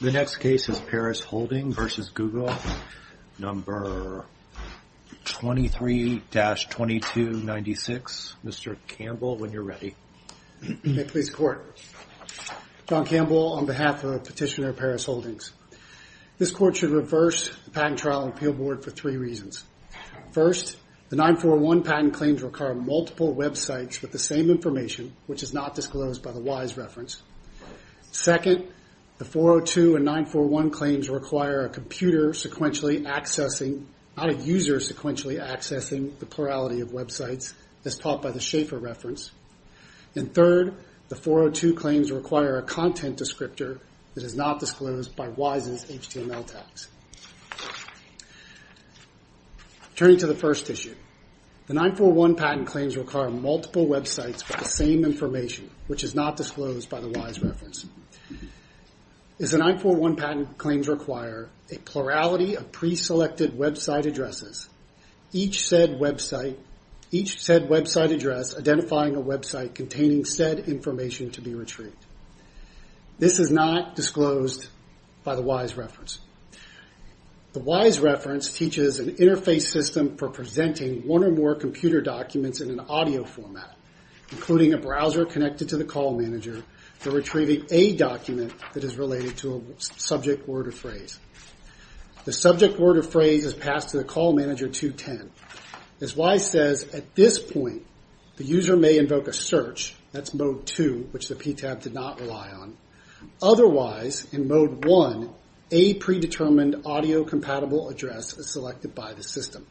The next case is Parus Holdings v. Google, No. 23-2296. Mr. Campbell, when you're ready. John Campbell, on behalf of Petitioner Parus Holdings. This Court should reverse the Patent Trial and Appeal Board for three reasons. First, the 941 patent claims require multiple websites with the same information, which is not disclosed by the WISE Reference. Second, the 402 and 941 claims require a user sequentially accessing the plurality of websites, as taught by the Schaeffer reference. And third, the 402 claims require a content descriptor that is not disclosed by WISE's HTML tags. Turning to the first issue, the 941 patent claims require multiple websites with the same information, which is not disclosed by the WISE Reference. As the 941 patent claims require a plurality of pre-selected website addresses, each said website address identifying a website containing said information to be retrieved. This is not disclosed by the WISE Reference. The WISE Reference teaches an interface system for presenting one or more computer documents in an audio format, including a browser connected to the call manager for retrieving a document that is related to a subject, word, or phrase. The subject, word, or phrase is passed to the call manager 210. As WISE says, at this point the user may invoke a search, that's mode 2, which the PTAB did not rely on. Otherwise, in mode 1, a pre-determined audio compatible address is selected by the system.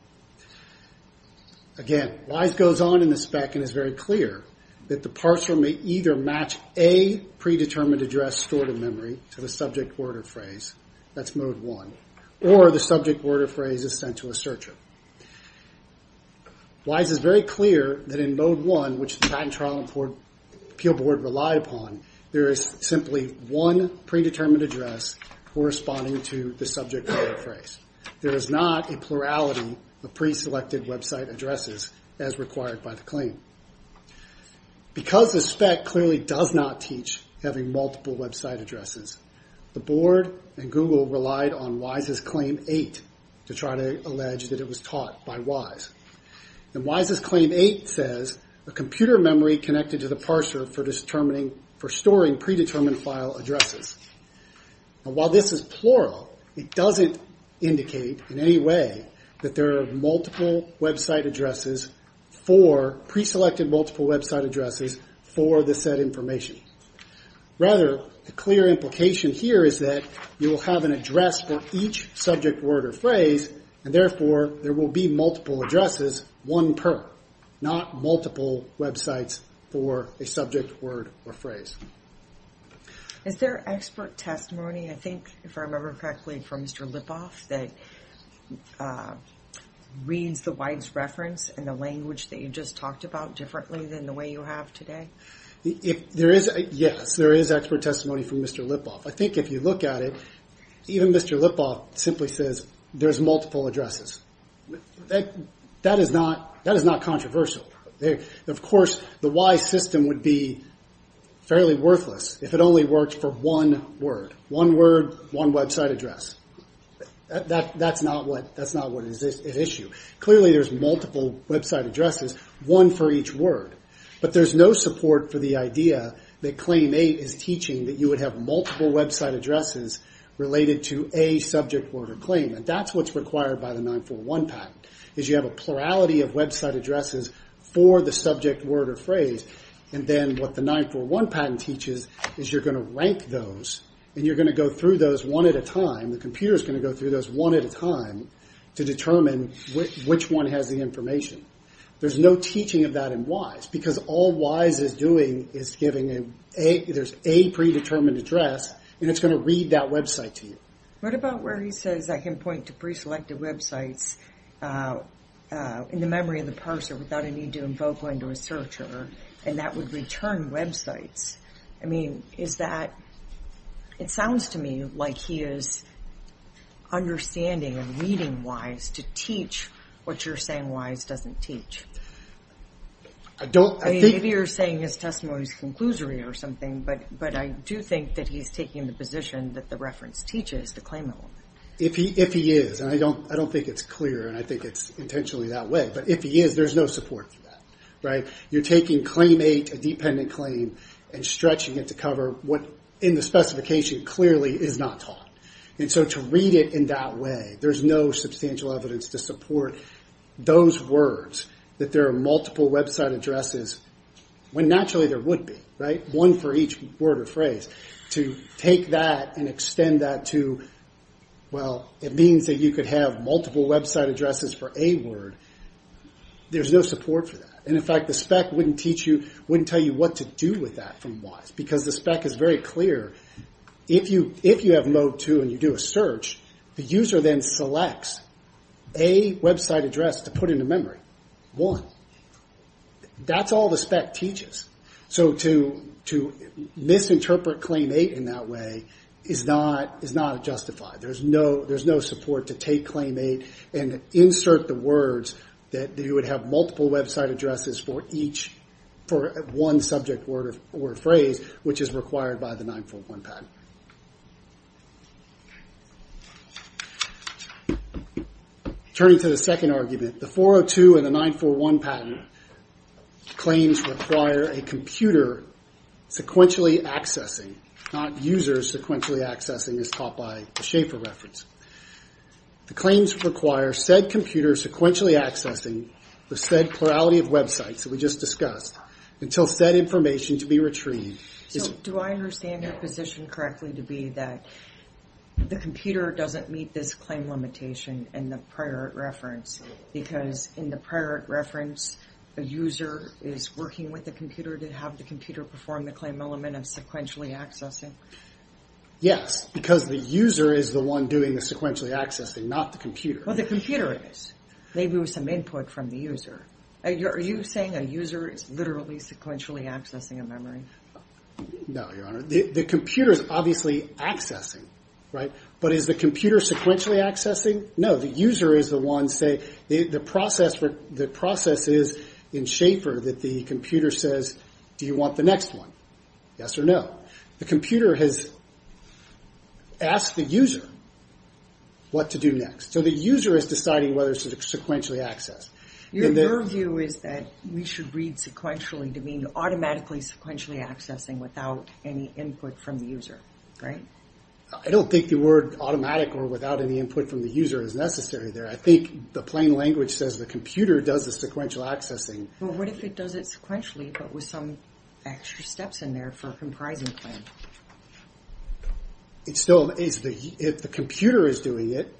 Again WISE goes on in the spec and is very clear that the parser may either match a pre-determined address stored in memory to the subject, word, or phrase, that's mode 1, or the subject, word, or phrase is sent to a searcher. WISE is very clear that in mode 1, which the Patent Trial and Appeal Board relied upon, there is simply one pre-determined address corresponding to the subject, word, or phrase. There is not a plurality of pre-selected website addresses as required by the claim. Because the spec clearly does not teach having multiple website addresses, the board and Google relied on WISE's Claim 8 to try to allege that it was taught by WISE. WISE's Claim 8 says, a computer memory connected to the parser for storing pre-determined file addresses. While this is plural, it doesn't indicate in any way that there are multiple website addresses for, pre-selected multiple website addresses for the said information. Rather, the clear implication here is that you will have an address for each subject, word, or phrase, and therefore there will be multiple addresses, one per, not multiple websites for a subject, word, or phrase. Is there expert testimony, if I remember correctly, from Mr. Lipoff that reads the WISE reference and the language that you just talked about differently than the way you have today? Yes, there is expert testimony from Mr. Lipoff. I think if you look at it, even Mr. Lipoff simply says there are multiple addresses. That is not controversial. Of course, the WISE system would be fairly worthless if it only worked for one word, one website address. That's not what is at issue. Clearly there are multiple website addresses, one for each word, but there is no support for the idea that Claim 8 is teaching that you would have multiple website addresses related to a subject, word, or claim. That is what is required by the 941 patent. You have a plurality of website addresses for the subject, word, or phrase. What the 941 patent teaches is you are going to rank those and you are going to go through those one at a time. The computer is going to go through those one at a time to determine which one has the information. There is no teaching of that in WISE because all WISE is doing is giving a predetermined address and it is going to read that website to you. What about where he says I can point to preselected websites in the memory of the person without a need to invoke a searcher and that would return websites? It sounds to me like he is understanding and reading WISE to teach what you are saying WISE doesn't teach. Maybe you are saying his testimony is conclusory or something, but I do think that he is taking the position that the reference teaches the claimant will. If he is, I don't think it is clear and I think it is intentionally that way, but if he is there is no support for that. You are taking Claim 8, a dependent claim, and stretching it to cover what in the specification clearly is not taught. To read it in that way, there is no substantial evidence to support those words that there are multiple website addresses when naturally there would be, one for each word or phrase. To take that and extend that to it means that you could have multiple website addresses for a word, there is no support for that. In fact, the spec wouldn't tell you what to do with that from WISE because the spec is very clear. If you have mode 2 and you do a search, the user then selects a website address to put into memory. That is all the spec teaches. To misinterpret Claim 8 in that way is not justified. There is no support to take Claim 8 and insert the words that you would have multiple website addresses for one subject word or phrase, which is required by the 941 patent. Turning to the second argument, the 402 and the 941 patent claims require a computer sequentially accessing, not users sequentially accessing, as taught by the Schaefer reference. The claims require said computer sequentially accessing the said plurality of websites that we just discussed until said information to be retrieved. Do I understand your position correctly to be that the computer doesn't meet this claim limitation in the prior reference because in the prior reference, the user is working with the computer to have the computer perform the claim element of sequentially accessing? Yes, because the user is the one doing the sequentially accessing, not the computer. Well, the computer is. Maybe there was some input from the user. Are you saying a user is literally sequentially accessing a memory? No, Your Honor. The computer is obviously accessing, but is the computer sequentially accessing? No. The user is the one. The process is in Schaefer that the computer says, do you want the next one? Yes or no? The computer has asked the user what to do next, so the user is deciding whether it's sequentially accessed. Your view is that we should read sequentially to mean automatically sequentially accessing without any input from the user, right? I don't think the word automatic or without any input from the user is necessary there. I think the plain language says the computer does the sequential accessing. What if it does it sequentially, but with some extra steps in there for a comprising claim? If the computer is doing it,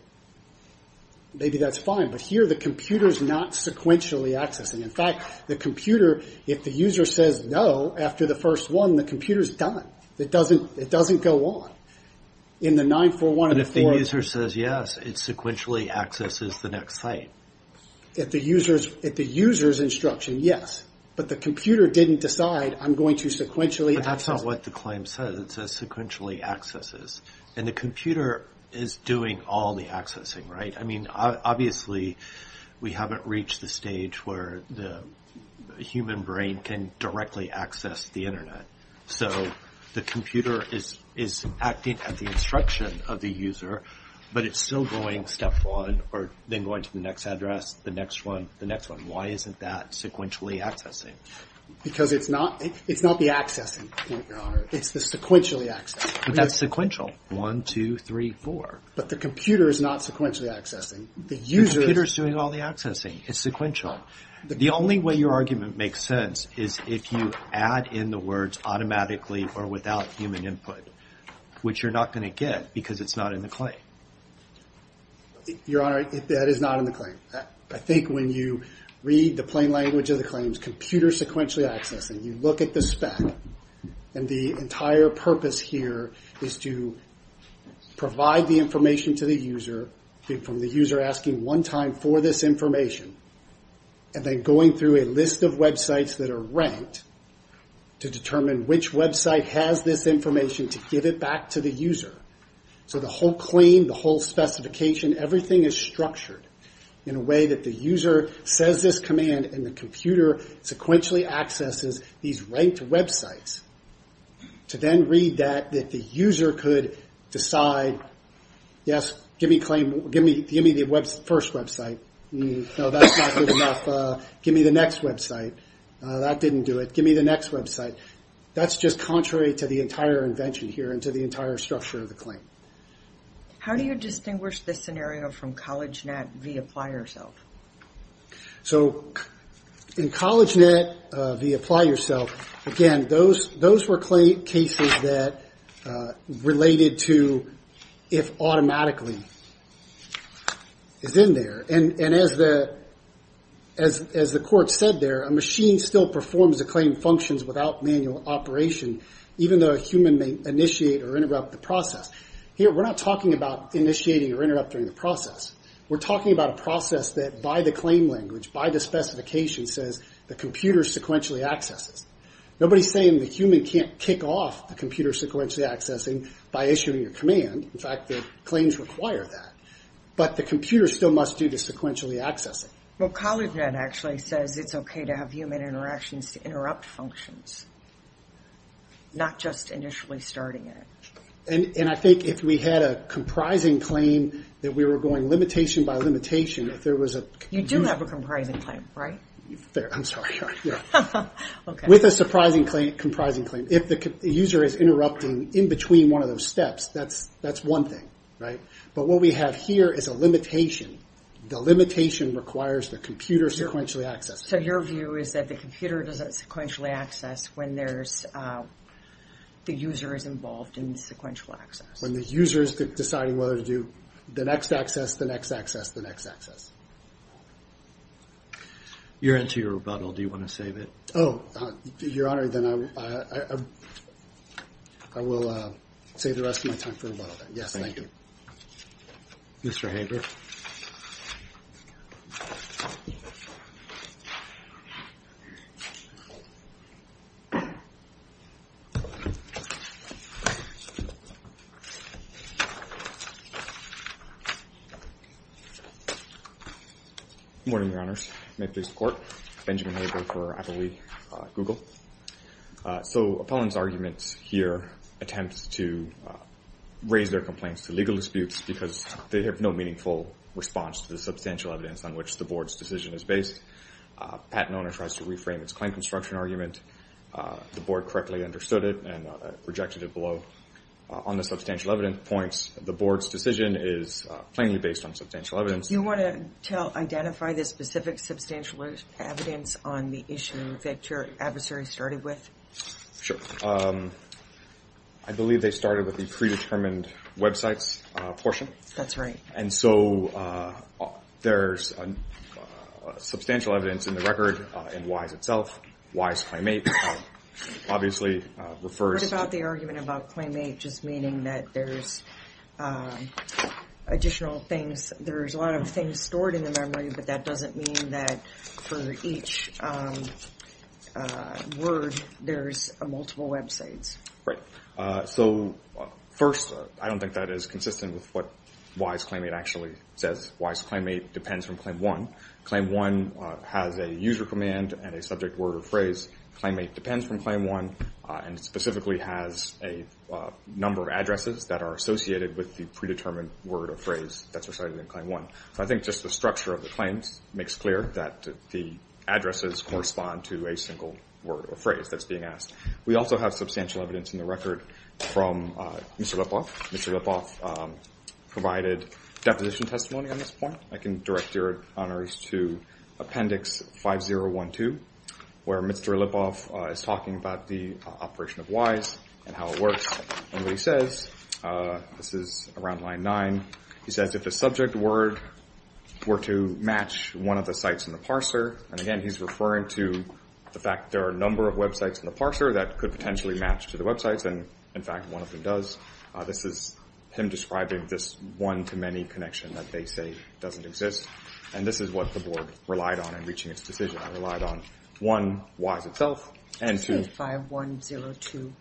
maybe that's fine, but here the computer is not sequentially accessing. In fact, the computer, if the user says no after the first one, the computer is done. It doesn't go on. In the 9-4-1-4... If the user says yes, it sequentially accesses the next site. If the user's instruction, yes, but the computer didn't decide I'm going to sequentially access... But that's not what the claim says. It says sequentially accesses. The computer is doing all the accessing, right? Obviously, we haven't reached the stage where the human brain can directly access the Internet. The computer is acting at the instruction of the user, but it's still going step one, or then going to the next address, the next one, the next one. Why isn't that sequentially accessing? Because it's not the accessing point, Your Honor. It's the sequentially accessing. That's sequential. One, two, three, four. But the computer is not sequentially accessing. The user is... The computer is doing all the accessing. It's sequential. The only way your argument makes sense is if you add in the words automatically or without human input, which you're not going to get because it's not in the claim. Your Honor, that is not in the claim. I think when you read the plain language of the claims, computer sequentially accessing, you look at the spec, and the entire purpose here is to provide the information to the user, from the user asking one time for this information, and then going through a list of websites that are ranked to determine which website has this information to give it back to the user. So the whole claim, the whole specification, everything is structured in a way that the user says this command, and the computer sequentially accesses these ranked websites to then read that, that the user could decide, yes, give me the first website. No, that's not good enough. Give me the next website. That didn't do it. Give me the next website. That's just contrary to the entire invention here and to the entire structure of the claim. How do you distinguish this scenario from CollegeNet v. Apply Yourself? So in CollegeNet v. Apply Yourself, again, those were cases that related to if automatically is in there, and as the court said there, a machine still performs the claim functions without manual operation, even though a human may initiate or interrupt the process. Here, we're not talking about initiating or interrupting the process. We're talking about a process that by the claim language, by the specification, says the computer sequentially accesses. Nobody's saying the human can't kick off the computer sequentially accessing by issuing a command. In fact, the claims require that. But the computer still must do the sequentially accessing. Well, CollegeNet actually says it's okay to have human interactions to interrupt functions, not just initially starting it. And I think if we had a comprising claim that we were going limitation by limitation, if there was a... You do have a comprising claim, right? I'm sorry. With a surprising comprising claim, if the user is interrupting in between one of those steps, that's one thing. But what we have here is a limitation. The limitation requires the computer sequentially access. So your view is that the computer does that sequentially access when the user is involved in the sequential access? When the user is deciding whether to do the next access, the next access, the next access. You're into your rebuttal. Do you want to save it? Oh, Your Honor, then I will save the rest of my time for rebuttal. Yes, thank you. Mr. Hager. Good morning, Your Honors. May it please the Court. Benjamin Hager for Applebee, Google. So opponents' arguments here attempt to raise their complaints to legal disputes because they have no meaningful response to the substantial evidence on which the Board's decision is based. Pat Nona tries to reframe its claim construction argument. The Board correctly understood it and rejected it below. On the substantial evidence points, the Board's decision is plainly based on substantial evidence. You want to identify the specific substantial evidence on the issue that your adversary started with? Sure. I believe they started with the predetermined websites portion. That's right. And so there's substantial evidence in the record in WISE itself. WISE Claim 8 obviously refers to... What about the argument about Claim 8 just meaning that there's additional things, there's a lot of things stored in the memory, but that doesn't mean that for each word there's multiple websites. Right. So first, I don't think that is consistent with what WISE Claim 8 actually says. WISE Claim 8 depends from Claim 1. Claim 1 has a user command and a subject word or phrase. Claim 8 depends from Claim 1 and specifically has a number of addresses that are associated with the predetermined word or phrase that's recited in Claim 1. So I think just the structure of the claims makes clear that the addresses correspond to a single word or phrase that's being asked. We also have substantial evidence in the record from Mr. Lipoff. Mr. Lipoff provided deposition testimony on this point. I can direct your honorees to Appendix 5012 where Mr. Lipoff is talking about the operation of WISE and how it works. What he says, this is around line 9, he says if the subject word were to match one of the sites in the parser, and again he's referring to the fact that there are a number of websites in the parser that could potentially match to the websites and in fact one of them does, this is him describing this one-to-many connection that they say doesn't exist. And this is what the board relied on in reaching its decision. It relied on one, WISE itself, and two, 5012.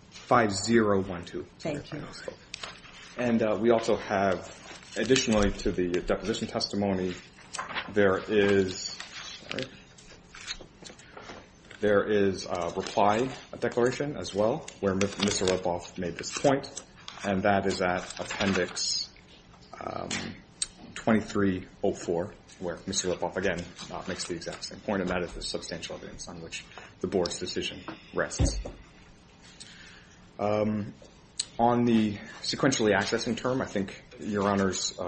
And we also have, additionally to the deposition testimony, there is a reply declaration as well where Mr. Lipoff made this point and that is at Appendix 2304 where Mr. Lipoff again makes the exact same point and that is the substantial evidence on which the board's decision rests. On the sequentially accessing term, I think your honors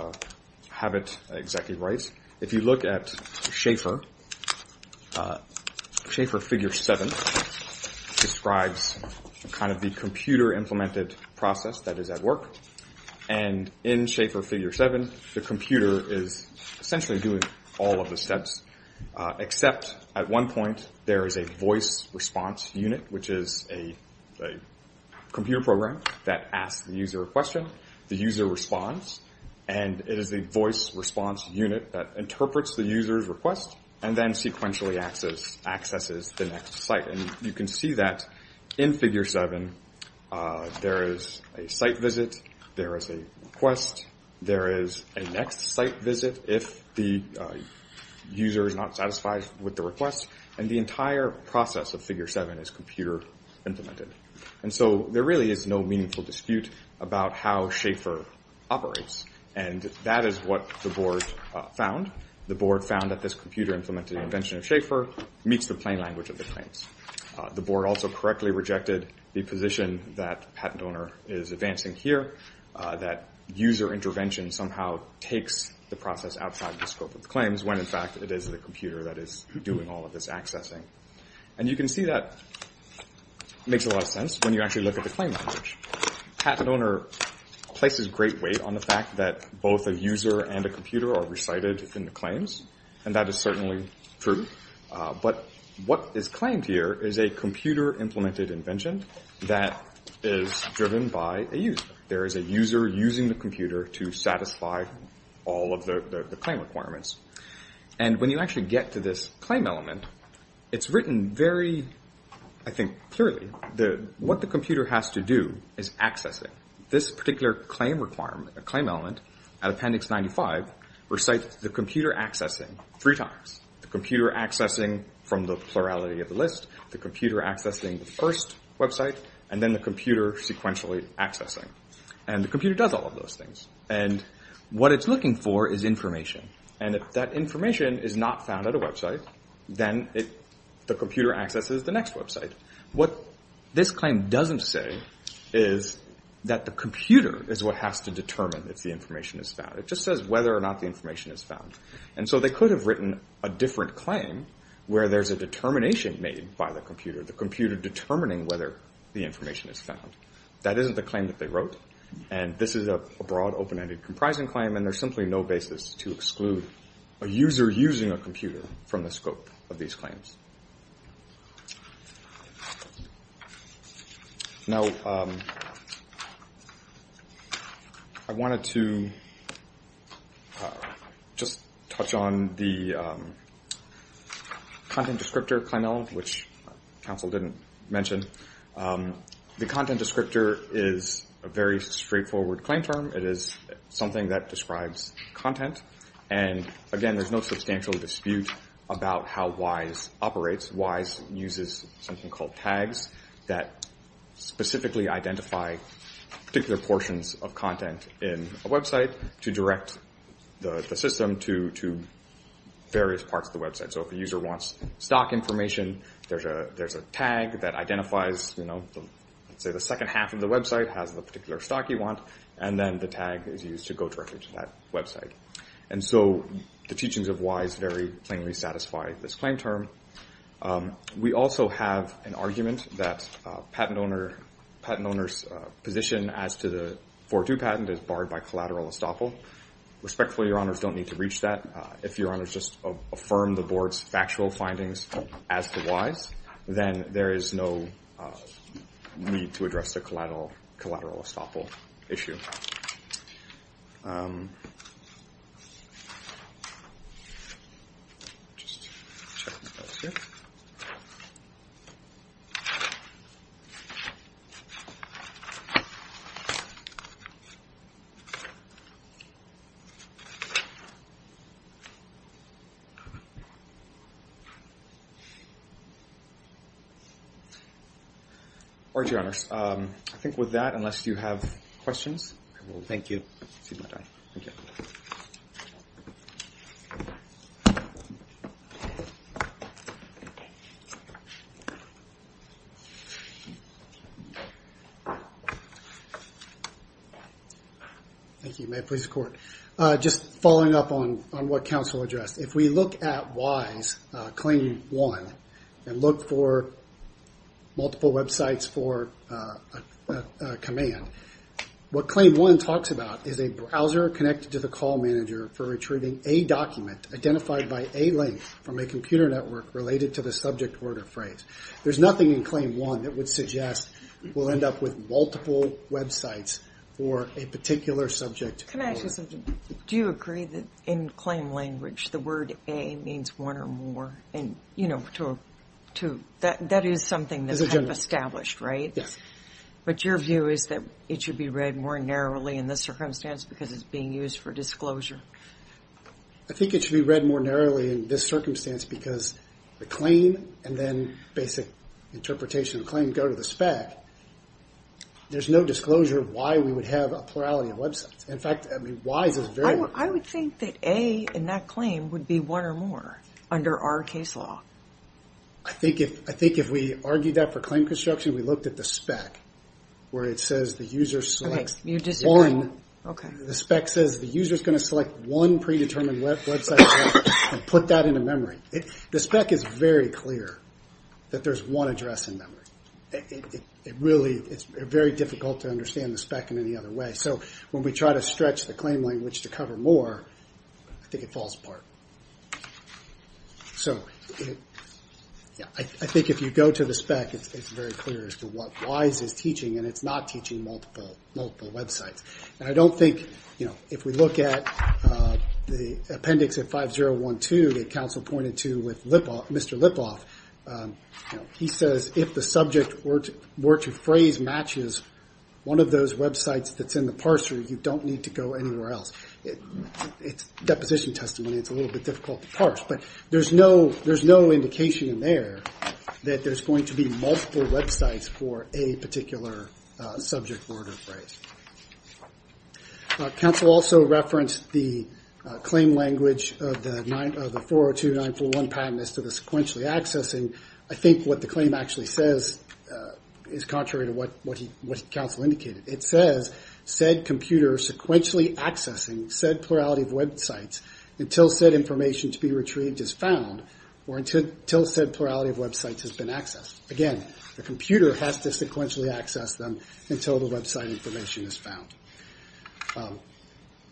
have it exactly right. If you look at Schaefer, Schaefer Figure 7 describes kind of the computer implemented process that is at work and in Schaefer Figure 7 the computer is essentially doing all of the steps except at one point there is a voice response unit which is a computer program that asks the user a question, the user responds, and it is a voice response unit that interprets the user's request and then sequentially accesses the next site. And you can see that in Figure 7 there is a site visit, there is a request, there is a next site visit if the user is not satisfied with the request, and the entire process of Figure 7 is computer implemented. And so there really is no meaningful dispute about how Schaefer operates and that is what the board found. The board found that this computer implemented invention of Schaefer meets the plain language of the claims. The patent owner is advancing here, that user intervention somehow takes the process outside the scope of the claims when in fact it is the computer that is doing all of this accessing. And you can see that makes a lot of sense when you actually look at the plain language. Patent owner places great weight on the fact that both a user and a computer are recited in the claims and that is certainly true. But what is claimed here is a computer implemented invention that is driven by a user. There is a user using the computer to satisfy all of the claim requirements. And when you actually get to this claim element, it is written very I think clearly, what the computer has to do is accessing. This particular claim element at Appendix 95 recites the computer accessing three times. The computer accessing from the plurality of the list, the computer accessing the first website, and then the computer sequentially accessing. And the computer does all of those things. And what it is looking for is information. And if that information is not found at a website, then the computer accesses the next website. What this claim doesn't say is that the computer is what has to determine if the information is found. It just says whether or not the information is found. And so they could have written a different claim where there is a determination made by the computer, the computer determining whether the information is found. That isn't the claim that they wrote. And this is a broad, open-ended, comprising claim and there is simply no basis to exclude a user using a computer from the scope of these claims. Now I wanted to just touch on this particular claim. And this particular claim is that the content descriptor claim element, which counsel didn't mention, the content descriptor is a very straightforward claim term. It is something that describes content. And again, there is no substantial dispute about how WISE operates. WISE uses something called tags that specifically identify particular portions of content in a website to direct the system to identify various parts of the website. So if a user wants stock information, there is a tag that identifies, let's say the second half of the website has the particular stock you want, and then the tag is used to go directly to that website. And so the teachings of WISE very plainly satisfy this claim term. We also have an argument that a patent owner's position as to the 4-2 patent is barred by collateral estoppel. Respectfully, Your Honors, don't need to reach that. If Your Honors just affirm the Board's factual findings as to WISE, then there is no need to address the collateral estoppel issue. I'll just check my notes here. All right, Your Honors. I think with that, unless you have questions, I will thank you. Thank you. Thank you. May it please the Court. Just following up on what counsel addressed. If we look at WISE Claim 1 and look for multiple websites for a particular subject, there is nothing in Claim 1 that would suggest we'll end up with multiple websites for a particular subject. Can I ask you something? Do you agree that in claim language, the word A means one or more? That is something that is kind of established, right? Yes. But your view is that it should be read more narrowly in this circumstance because it's being used for disclosure. I think it should be read more narrowly in this circumstance because the claim and then basic interpretation of the claim go to the spec. There is no disclosure of why we would have a plurality of websites. In fact, WISE is very important. I would think that A in that claim would be one or more under our case law. I think if we argued that for claim construction, we looked at the spec where it says the user is going to select one predetermined website and put that into memory, the spec is very clear that there is one address in memory. It is very difficult to understand the spec in any other way. When we try to stretch the claim language to cover more, I think it falls apart. I think if you go to the spec, it is very clear as to what WISE is teaching and it is not teaching multiple websites. If we look at the appendix at 5012 that counsel pointed to with Mr. Lipoff, he says if the subject were to phrase matches one of those websites that's in the parser, you don't need to go anywhere else. It's deposition testimony. It's a little bit difficult to parse. There is no indication in there that there is going to be multiple websites for a particular subject word or phrase. Counsel also referenced the claim language of the 402941 patent as to the sequentially accessing. I think what the claim actually says is contrary to what counsel indicated. It says said computer sequentially accessing said plurality of websites until said information to be retrieved is found or until said plurality of websites has been accessed. Again, the computer has to sequentially access them until the website information is found.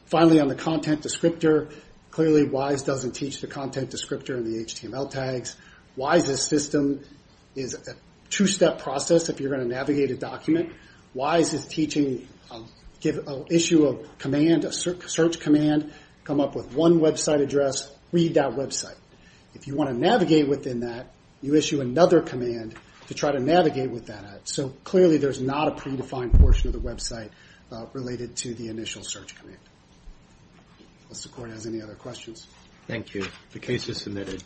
Finally on the content descriptor, clearly WISE doesn't teach the content descriptor in the HTML tags. WISE's system is a two-step process if you are going to navigate a document. WISE is teaching an issue of command, a search command, come up with one website address, read that website. If you want to navigate within that, you issue another command to try to navigate with that. Clearly there is not a predefined portion of the website related to the initial search command. Does the court have any other questions?